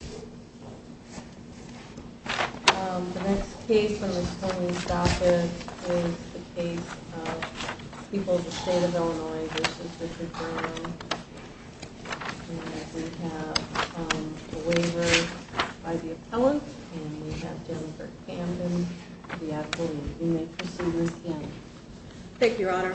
The next case is the case of People of the State of Illinois v. Richard Brown. We have a waiver by the appellant, and we have Jennifer Camden, the appellant. You may proceed, Ms. Camden. Thank you, Your Honor.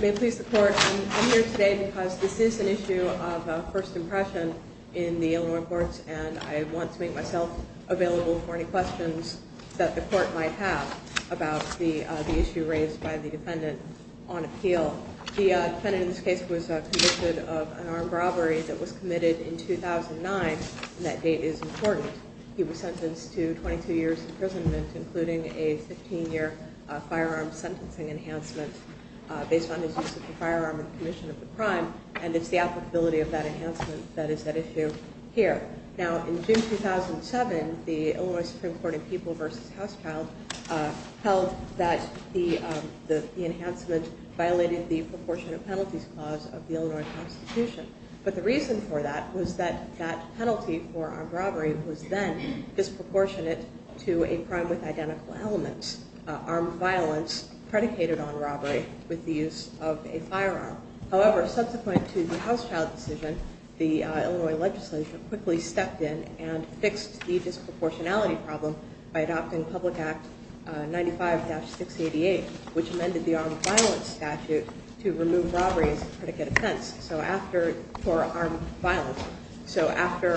May it please the Court, I'm here today because this is an issue of first impression in the Illinois courts, and I want to make myself available for any questions that the Court might have about the issue raised by the defendant on appeal. Well, the defendant in this case was convicted of an armed robbery that was committed in 2009, and that date is important. He was sentenced to 22 years imprisonment, including a 15-year firearm sentencing enhancement based on his use of the firearm in commission of the crime, and it's the applicability of that enhancement that is at issue here. Now, in June 2007, the Illinois Supreme Court in People v. Housechild held that the enhancement violated the proportionate penalties clause of the Illinois Constitution, but the reason for that was that that penalty for armed robbery was then disproportionate to a crime with identical elements, armed violence predicated on robbery with the use of a firearm. However, subsequent to the Housechild decision, the Illinois legislature quickly stepped in and fixed the disproportionality problem by adopting Public Act 95-688, which amended the armed violence statute to remove robbery as a predicate offense for armed violence. So after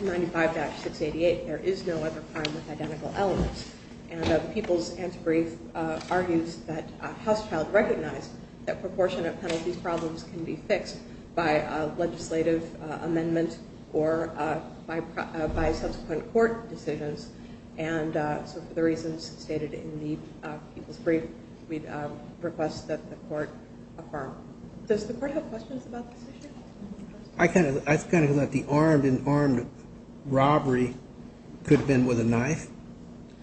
95-688, there is no other crime with identical elements, and People's answer brief argues that Housechild recognized that proportionate penalties problems can be fixed by a legislative amendment or by subsequent court decisions, and so for the reasons stated in the People's brief, we request that the Court affirm. Does the Court have questions about this issue? I kind of think that the armed robbery could have been with a knife.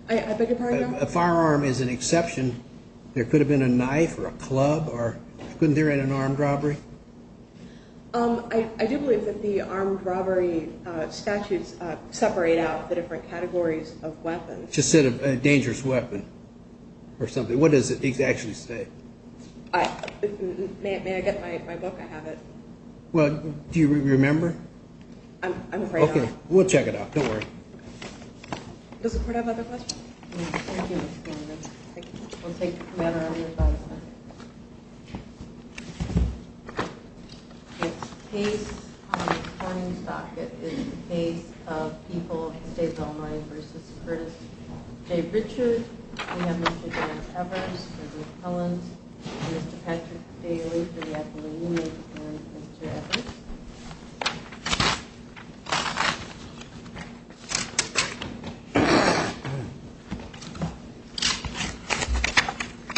I beg your pardon? A firearm is an exception. There could have been a knife or a club, or couldn't there have been an armed robbery? I do believe that the armed robbery statutes separate out the different categories of weapons. Just said a dangerous weapon or something. What does it actually say? May I get my book? I have it. Well, do you remember? I'm afraid I don't. We'll check it out. Don't worry. Does the Court have other questions? Thank you, Mr. Chairman. Thank you. We'll take a matter on the advisory. It's case on a coin socket is the case of People of the State of Illinois v. Curtis J. Richard. We have Mr. George Evers, Mr. Ruth Collins, Mr. Patrick Daly for the appellate unit, and Mr. Evers.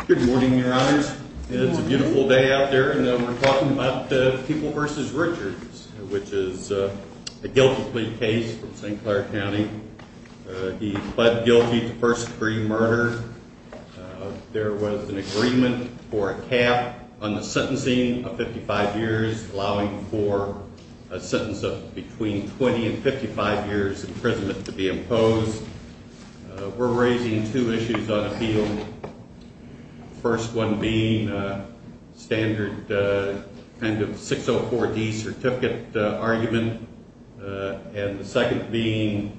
Good morning, Your Honors. It's a beautiful day out there, and we're talking about the People v. Richards, which is a guilty plea case from St. Clair County. He pled guilty to first degree murder. There was an agreement for a cap on the sentencing of 55 years, allowing for a sentence of between 20 and 55 years imprisonment to be imposed. We're raising two issues on appeal, the first one being standard kind of 604D certificate argument, and the second being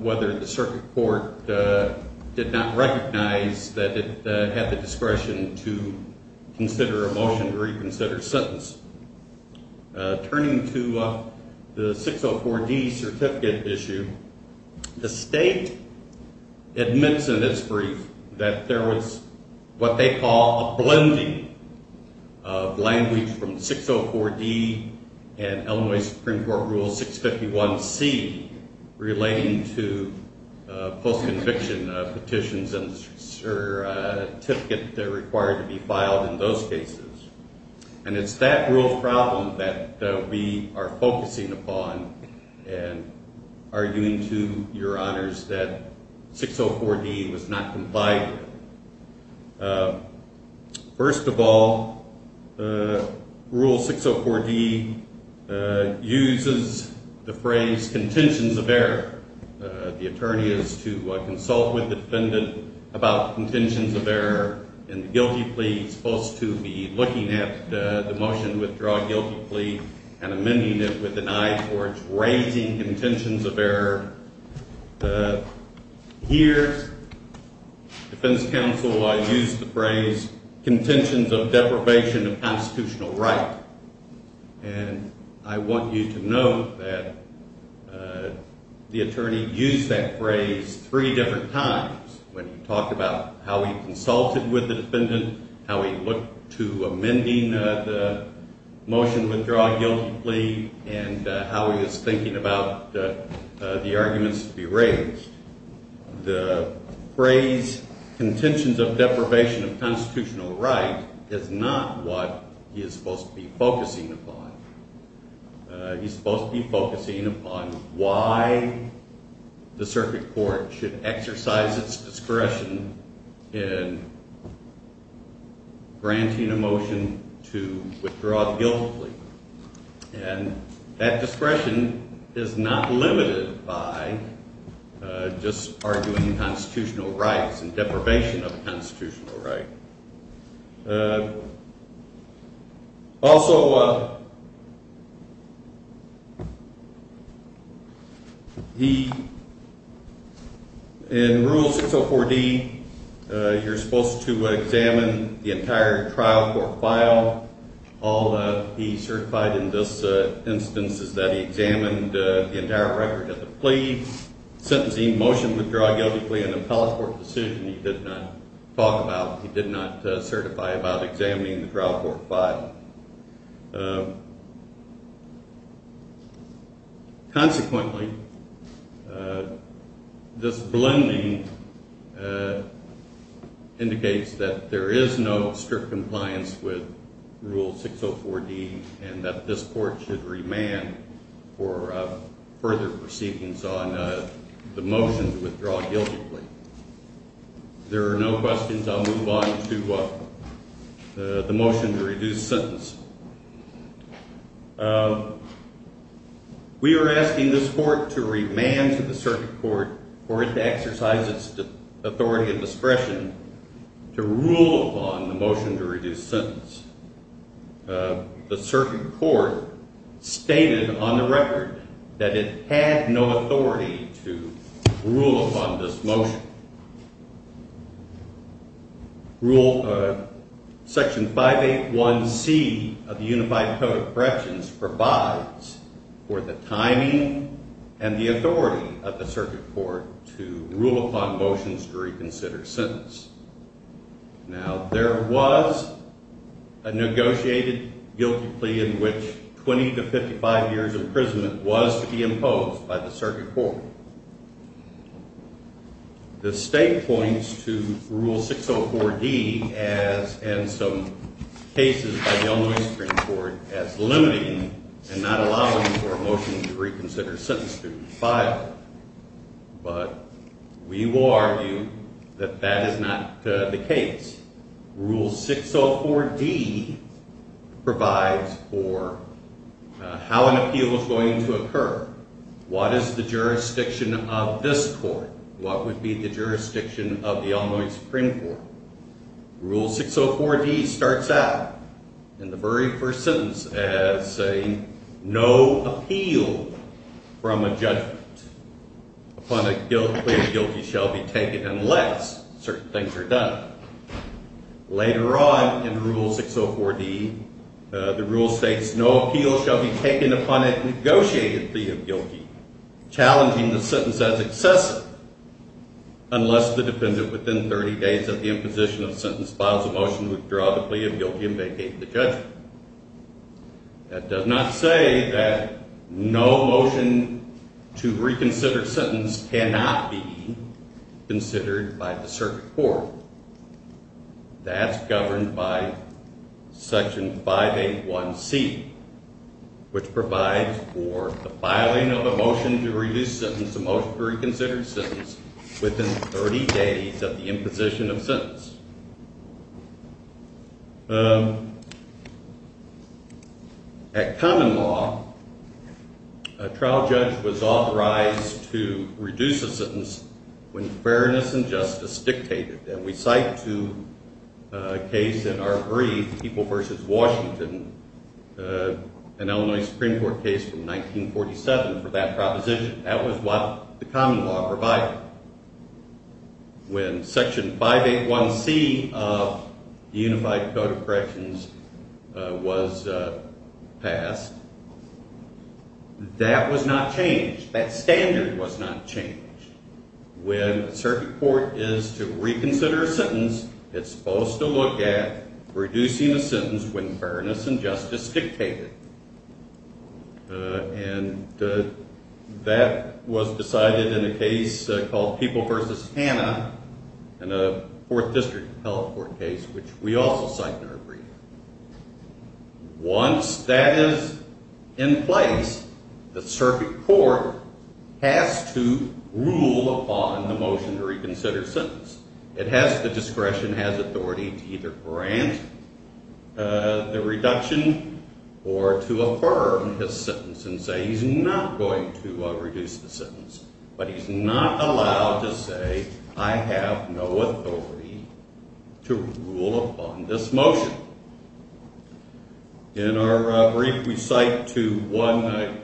whether the circuit court did not recognize that it had the discretion to consider a motion to reconsider sentence. Turning to the 604D certificate issue, the state admits in its brief that there was what they call a blending of language from 604D and Illinois Supreme Court Rule 651C relating to post-conviction petitions and certificate that are required to be filed in those cases. And it's that real problem that we are focusing upon and arguing to, Your Honors, that 604D was not complied with. First of all, Rule 604D uses the phrase contentions of error. The attorney is to consult with the defendant about contentions of error, and the guilty plea is supposed to be looking at the motion to withdraw a guilty plea and amending it with an eye towards raising contentions of error. Here, defense counsel used the phrase contentions of deprivation of constitutional right. And I want you to note that the attorney used that phrase three different times when he talked about how he consulted with the defendant, how he looked to amending the motion to withdraw a guilty plea, and how he was thinking about the arguments to be raised. The phrase contentions of deprivation of constitutional right is not what he is supposed to be focusing upon. He's supposed to be focusing upon why the circuit court should exercise its discretion in granting a motion to withdraw the guilty plea. And that discretion is not limited by just arguing constitutional rights and deprivation of constitutional right. Also, in Rule 604D, you're supposed to examine the entire trial court file. All that he certified in this instance is that he examined the entire record of the plea. He sentencing motion to withdraw a guilty plea in an appellate court decision he did not talk about, he did not certify about examining the trial court file. Consequently, this blending indicates that there is no strict compliance with Rule 604D and that this court should remand for further proceedings on the motion to withdraw a guilty plea. If there are no questions, I'll move on to the motion to reduce sentence. We are asking this court to remand to the circuit court for it to exercise its authority and discretion to rule upon the motion to reduce sentence. The circuit court stated on the record that it had no authority to rule upon this motion. Section 581C of the Unified Code of Corrections provides for the timing and the authority of the circuit court to rule upon motions to reconsider sentence. Now, there was a negotiated guilty plea in which 20 to 55 years imprisonment was to be imposed by the circuit court. The state points to Rule 604D and some cases by the Illinois Supreme Court as limiting and not allowing for a motion to reconsider sentence to be filed. But we will argue that that is not the case. Rule 604D provides for how an appeal is going to occur. What is the jurisdiction of this court? What would be the jurisdiction of the Illinois Supreme Court? Rule 604D starts out in the very first sentence as saying no appeal from a judgment upon a guilty plea of guilty shall be taken unless certain things are done. Later on in Rule 604D, the rule states no appeal shall be taken upon a negotiated plea of guilty challenging the sentence as excessive unless the defendant within 30 days of the imposition of sentence files a motion to withdraw the plea of guilty and vacate the judgment. That does not say that no motion to reconsider sentence cannot be considered by the circuit court. That's governed by Section 581C, which provides for the filing of a motion to reduce sentence, a motion to reconsider sentence, within 30 days of the imposition of sentence. At common law, a trial judge was authorized to reduce a sentence when fairness and justice dictated. And we cite to a case in our brief, People v. Washington, an Illinois Supreme Court case from 1947 for that proposition. That was what the common law provided. When Section 581C of the Unified Code of Corrections was passed, that was not changed. That standard was not changed. When a circuit court is to reconsider a sentence, it's supposed to look at reducing a sentence when fairness and justice dictated. And that was decided in a case called People v. Hanna in a Fourth District Health Court case, which we also cite in our brief. Once that is in place, the circuit court has to rule upon the motion to reconsider sentence. It has the discretion, has authority to either grant the reduction or to affirm his sentence and say he's not going to reduce the sentence. But he's not allowed to say, I have no authority to rule upon this motion. In our brief, we cite to one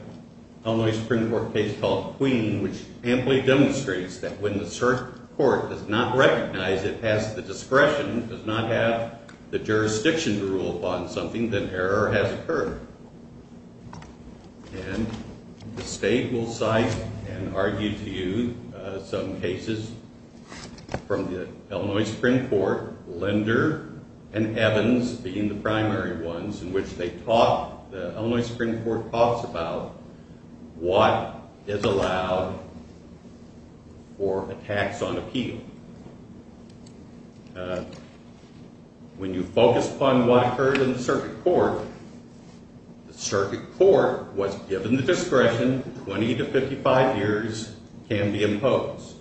Illinois Supreme Court case called Queen, which amply demonstrates that when the circuit court does not recognize it has the discretion, does not have the jurisdiction to rule upon something, then error has occurred. And the state will cite and argue to you some cases from the Illinois Supreme Court, Linder and Evans being the primary ones, in which the Illinois Supreme Court talks about what is allowed for a tax on appeal. When you focus upon what occurred in the circuit court, the circuit court was given the discretion, 20 to 55 years can be imposed.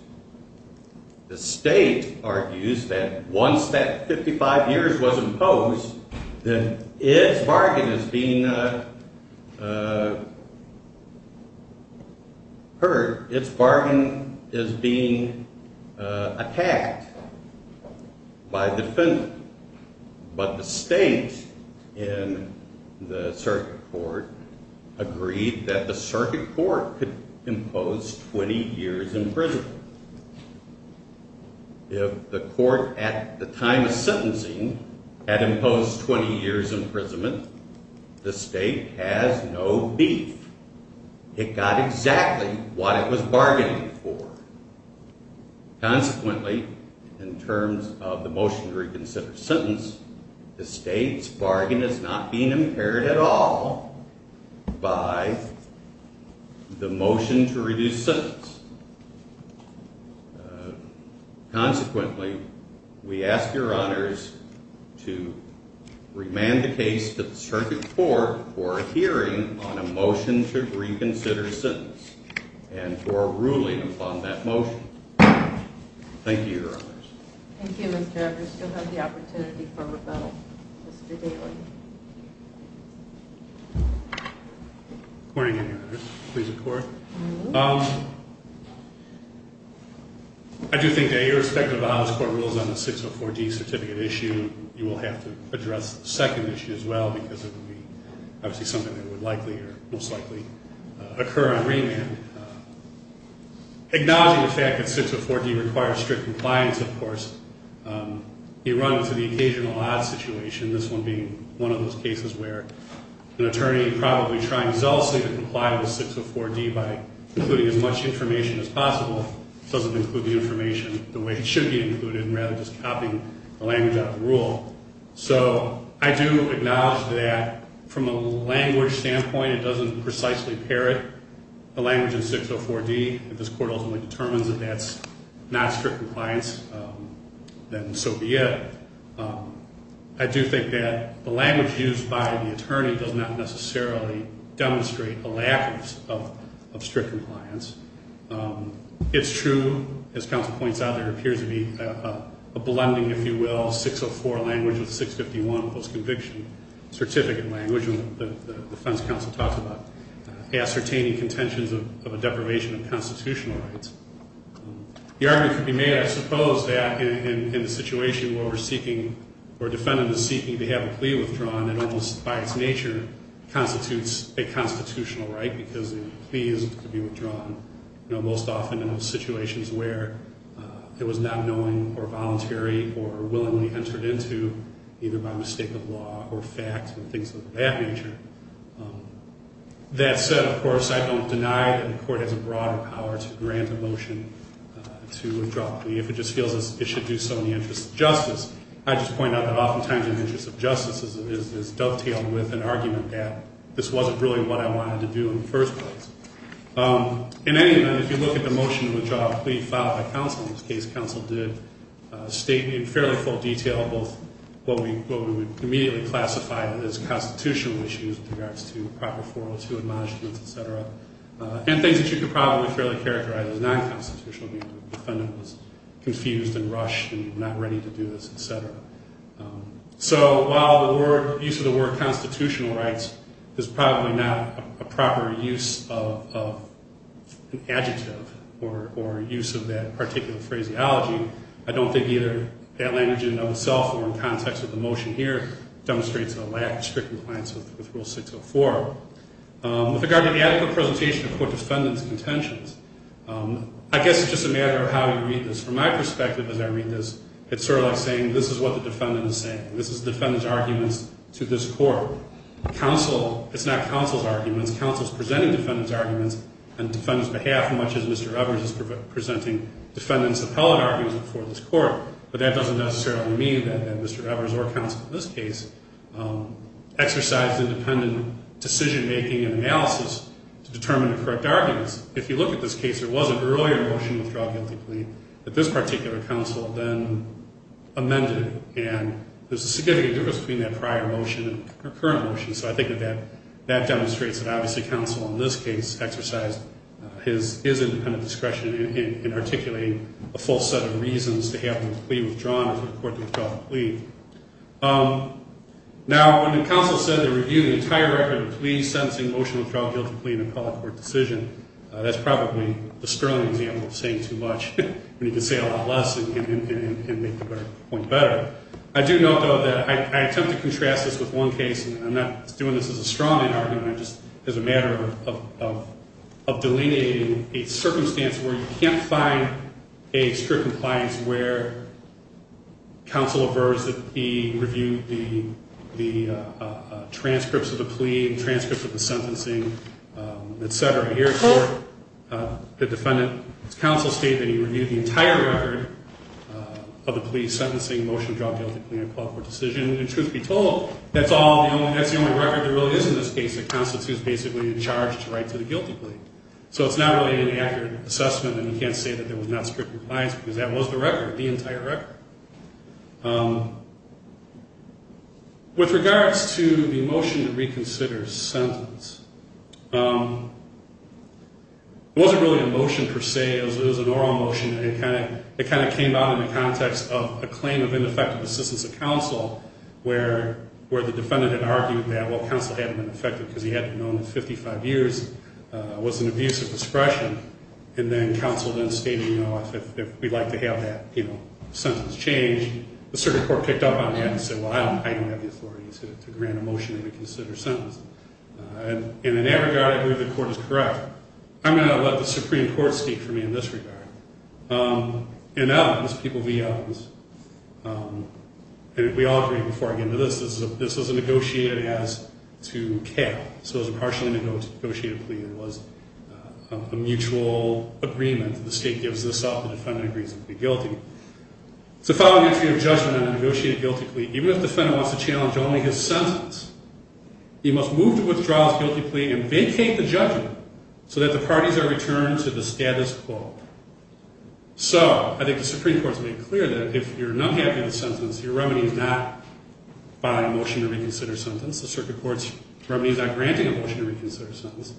The state argues that once that 55 years was imposed, then its bargain is being hurt, its bargain is being attacked by the defendant. But the state in the circuit court agreed that the circuit court could impose 20 years imprisonment. If the court at the time of sentencing had imposed 20 years imprisonment, the state has no beef. It got exactly what it was bargaining for. Consequently, in terms of the motion to reconsider sentence, the state's bargain is not being impaired at all by the motion to reduce sentence. Consequently, we ask your honors to remand the case to the circuit court for a hearing on a motion to reconsider sentence and for a ruling upon that motion. Thank you, your honors. Thank you, Mr. Edwards. You still have the opportunity for rebuttal. Mr. Daly. Good morning, your honors. Please record. I do think that irrespective of how this court rules on the 604D certificate issue, you will have to address the second issue as well because it would be obviously something that would likely or most likely occur on remand. Acknowledging the fact that 604D requires strict compliance, of course, you run into the occasional odd situation, this one being one of those cases where an attorney probably trying zealously to comply with 604D by including as much information as possible doesn't include the information the way it should be included and rather just copying the language out of the rule. So I do acknowledge that from a language standpoint, it doesn't precisely pair it. The language in 604D, if this court ultimately determines that that's not strict compliance, then so be it. I do think that the language used by the attorney does not necessarily demonstrate a lack of strict compliance. It's true, as counsel points out, there appears to be a blending, if you will, 604 language with 651 post-conviction certificate language. The defense counsel talks about ascertaining contentions of a deprivation of constitutional rights. The argument could be made, I suppose, that in a situation where we're seeking or a defendant is seeking to have a plea withdrawn, it almost by its nature constitutes a constitutional right because the plea is to be withdrawn, most often in situations where it was not knowing or voluntary or willingly entered into either by mistake of law or fact and things of that nature. That said, of course, I don't deny that the court has a broader power to grant a motion to withdraw a plea if it just feels it should do so in the interest of justice. I just point out that oftentimes in the interest of justice is dovetailed with an argument that this wasn't really what I wanted to do in the first place. In any event, if you look at the motion to withdraw a plea filed by counsel in this case, counsel did state in fairly full detail both what we would immediately classify as constitutional issues in regards to proper 402 admonishments, etc., and things that you could probably fairly characterize as non-constitutional because the defendant was confused and rushed and not ready to do this, etc. So while the use of the word constitutional rights is probably not a proper use of an adjective or use of that particular phraseology, I don't think either that language in and of itself or in context of the motion here demonstrates a lack of strict compliance with Rule 604. With regard to the adequate presentation of court defendants' contentions, I guess it's just a matter of how you read this. From my perspective as I read this, it's sort of like saying this is what the defendant is saying. This is defendant's arguments to this court. It's not counsel's arguments. Counsel is presenting defendant's arguments on defendant's behalf much as Mr. Evers is presenting defendant's appellate arguments before this court. But that doesn't necessarily mean that Mr. Evers or counsel in this case exercised independent decision-making and analysis to determine the correct arguments. If you look at this case, there was an earlier motion to withdraw a guilty plea that this particular counsel then amended. And there's a significant difference between that prior motion and the current motion. So I think that that demonstrates that obviously counsel in this case exercised his independent discretion in articulating a full set of reasons to have the plea withdrawn before the court withdraw the plea. Now, when the counsel said they reviewed the entire record of pleas, sentencing, motion to withdraw a guilty plea in a colored court decision, that's probably the sterling example of saying too much. You can say a lot less and make the point better. I do note, though, that I attempt to contrast this with one case, and I'm not doing this as a strongman argument. I'm just, as a matter of delineating a circumstance where you can't find a strict compliance where counsel averts that he reviewed the transcripts of the plea, transcripts of the sentencing, et cetera. Here at court, the defendant's counsel stated that he reviewed the entire record of the plea, sentencing, motion to withdraw a guilty plea in a colored court decision. And truth be told, that's the only record there really is in this case that constitutes basically the charge to write to the guilty plea. So it's not really an accurate assessment, and you can't say that there was not strict compliance because that was the record, the entire record. With regards to the motion to reconsider sentence, it wasn't really a motion per se. It was an oral motion, and it kind of came out in the context of a claim of ineffective assistance of counsel where the defendant had argued that, well, counsel hadn't been effective because he had known that 55 years was an abuse of discretion. And then counsel then stated, you know, if we'd like to have that sentence changed, the circuit court picked up on that and said, well, I don't have the authority to grant a motion to reconsider sentence. And in that regard, I believe the court is correct. I'm going to let the Supreme Court speak for me in this regard. In evidence, people, the evidence, and we all agree before I get into this, this was a negotiated as to care. So it was a partially negotiated plea that was a mutual agreement. The state gives this up, the defendant agrees to be guilty. It's the following entry of judgment on a negotiated guilty plea. Even if the defendant wants to challenge only his sentence, he must move to withdraw his guilty plea and vacate the judgment so that the parties are returned to the status quo. So I think the Supreme Court's made clear that if you're not happy with the sentence, your remedy is not by a motion to reconsider sentence. The circuit court's remedy is not granting a motion to reconsider sentence.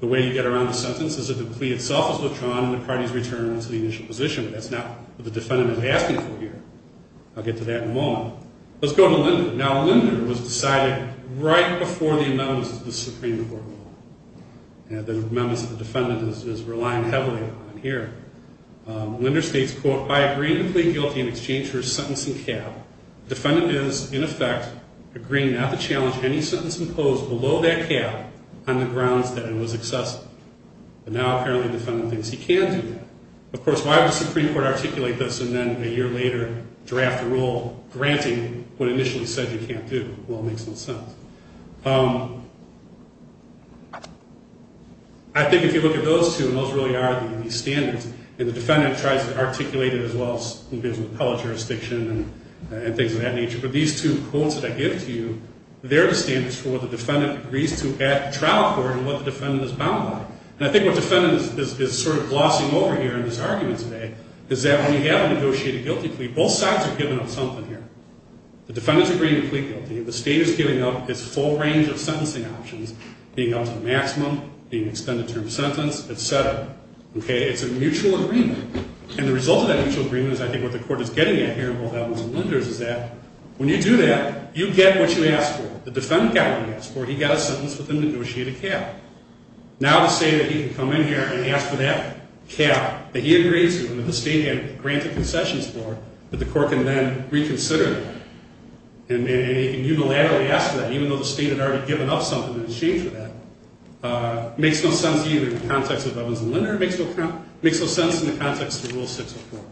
The way you get around the sentence is if the plea itself is withdrawn and the parties return to the initial position, but that's not what the defendant is asking for here. I'll get to that in a moment. Let's go to Linder. Now, Linder was decided right before the amendments of the Supreme Court rule. And the amendments of the defendant is relying heavily on here. Linder states, quote, I agree to plead guilty in exchange for a sentencing cap. Defendant is, in effect, agreeing not to challenge any sentence imposed below that cap on the grounds that it was excessive. But now apparently the defendant thinks he can do that. Of course, why would the Supreme Court articulate this and then a year later draft a rule granting what initially said you can't do? Well, it makes no sense. I think if you look at those two, and those really are the standards, and the defendant tries to articulate it as well in terms of appellate jurisdiction and things of that nature. But these two quotes that I give to you, they're the standards for what the defendant agrees to at the trial court and what the defendant is bound by. And I think what the defendant is sort of glossing over here in this argument today is that when you have a negotiated guilty plea, both sides are giving up something here. The defendant's agreeing to plead guilty. The state is giving up its full range of sentencing options, being up to the maximum, being extended term sentence, et cetera. Okay, it's a mutual agreement. And the result of that mutual agreement is I think what the court is getting at here in both Adams and Linder is that when you do that, you get what you asked for. The defendant got what he asked for. He got a sentence with a negotiated cap. Now to say that he can come in here and ask for that cap that he agreed to and that the state had granted concessions for, that the court can then reconsider that. And unilaterally ask for that, even though the state had already given up something in exchange for that, makes no sense either in the context of Adams and Linder. It makes no sense in the context of Rule 604.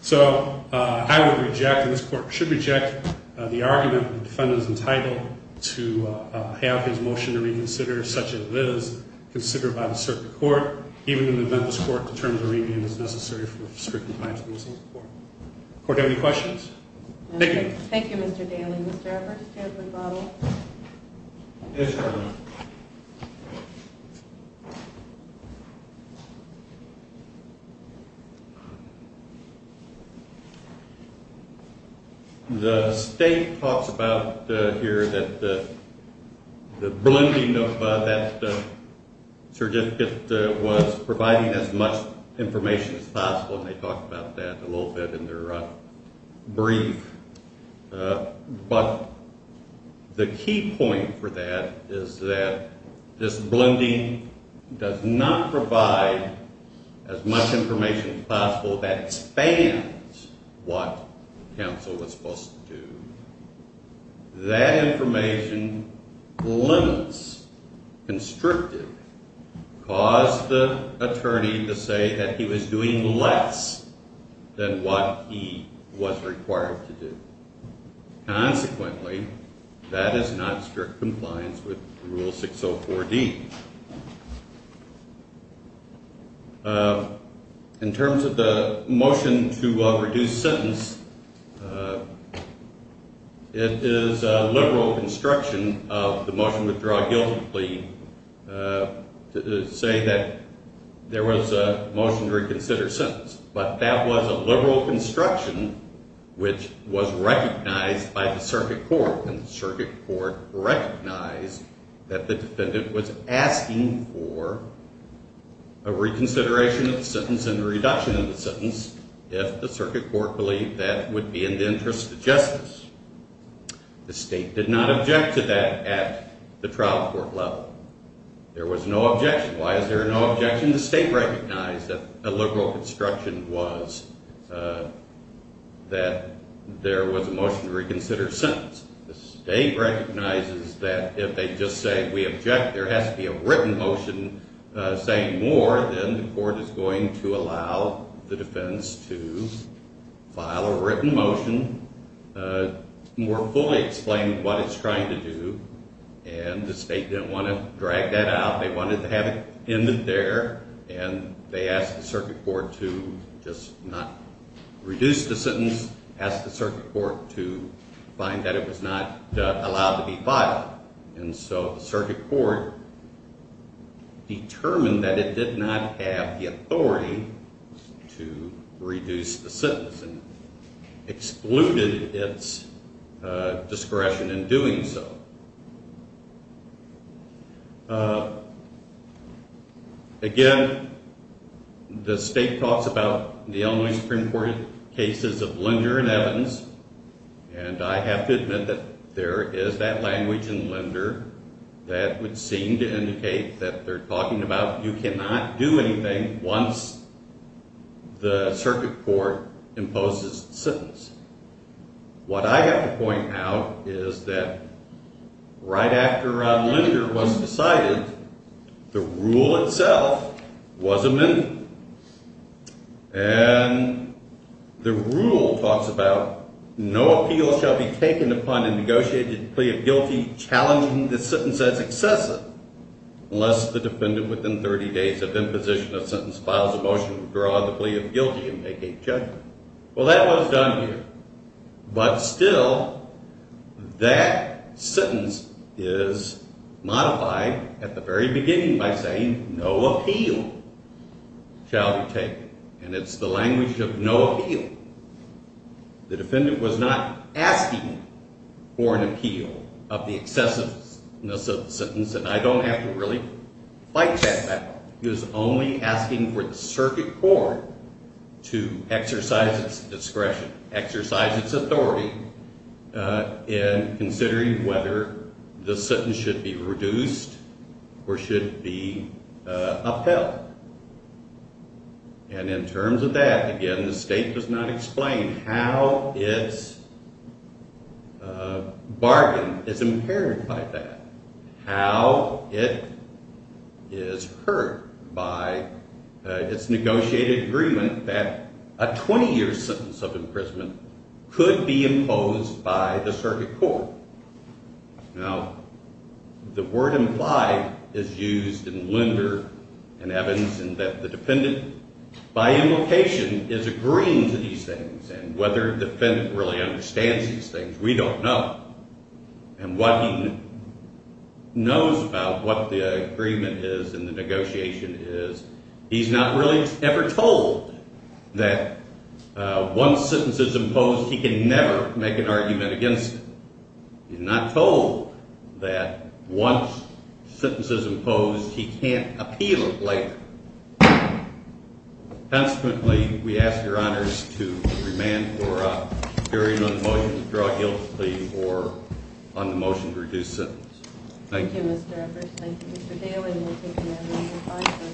So I would reject, and this court should reject, the argument that the defendant is entitled to have his motion reconsidered such as it is considered by the circuit court, even in the event this court determines a remand is necessary for strict compliance with the Missing Persons Act. Court, do you have any questions? Thank you. Thank you, Mr. Daly. Mr. Evers, do you have a rebuttal? Yes, Your Honor. The state talks about here that the blending of that certificate was providing as much information as possible, and they talk about that a little bit in their brief. But the key point for that is that this blending does not provide as much information as possible that expands what counsel was supposed to do. That information limits, constricted, caused the attorney to say that he was doing less than what he was required to do. Consequently, that is not strict compliance with Rule 604D. In terms of the motion to reduce sentence, it is a liberal construction of the motion withdraw guilty plea to say that there was a motion to reconsider sentence. But that was a liberal construction which was recognized by the circuit court. And the circuit court recognized that the defendant was asking for a reconsideration of the sentence and a reduction of the sentence if the circuit court believed that would be in the interest of justice. The state did not object to that at the trial court level. There was no objection. Why is there no objection? The state recognized that a liberal construction was that there was a motion to reconsider sentence. The state recognizes that if they just say, we object, there has to be a written motion saying more, then the court is going to allow the defense to file a written motion more fully explaining what it's trying to do. And the state didn't want to drag that out. They wanted to have it in there, and they asked the circuit court to just not reduce the sentence, asked the circuit court to find that it was not allowed to be filed. And so the circuit court determined that it did not have the authority to reduce the sentence and excluded its discretion in doing so. Again, the state talks about the Illinois Supreme Court cases of lender and evidence, and I have to admit that there is that language in lender that would seem to indicate that they're talking about you cannot do anything once the circuit court imposes the sentence. What I have to point out is that right after a lender was decided, the rule itself was amended. And the rule talks about no appeal shall be taken upon a negotiated plea of guilty challenging the sentence as excessive unless the defendant within 30 days of imposition of sentence files a motion to withdraw the plea of guilty and make a judgment. Well, that was done here. But still, that sentence is modified at the very beginning by saying no appeal shall be taken, and it's the language of no appeal. The defendant was not asking for an appeal of the excessiveness of the sentence, and I don't have to really fight that battle. He was only asking for the circuit court to exercise its discretion, exercise its authority in considering whether the sentence should be reduced or should be upheld. And in terms of that, again, the state does not explain how its bargain is impaired by that, how it is hurt by its negotiated agreement that a 20-year sentence of imprisonment could be imposed by the circuit court. Now, the word implied is used in Lender and Evans in that the defendant, by implication, is agreeing to these things, and whether the defendant really understands these things, we don't know. And what he knows about what the agreement is and the negotiation is, he's not really ever told that once sentence is imposed, he can never make an argument against it. He's not told that once sentence is imposed, he can't appeal it later. Consequently, we ask your honors to remand for a hearing on the motion to draw guilty or on the motion to reduce sentence. Thank you. Thank you, Mr. Evers. Thank you, Mr. Dale.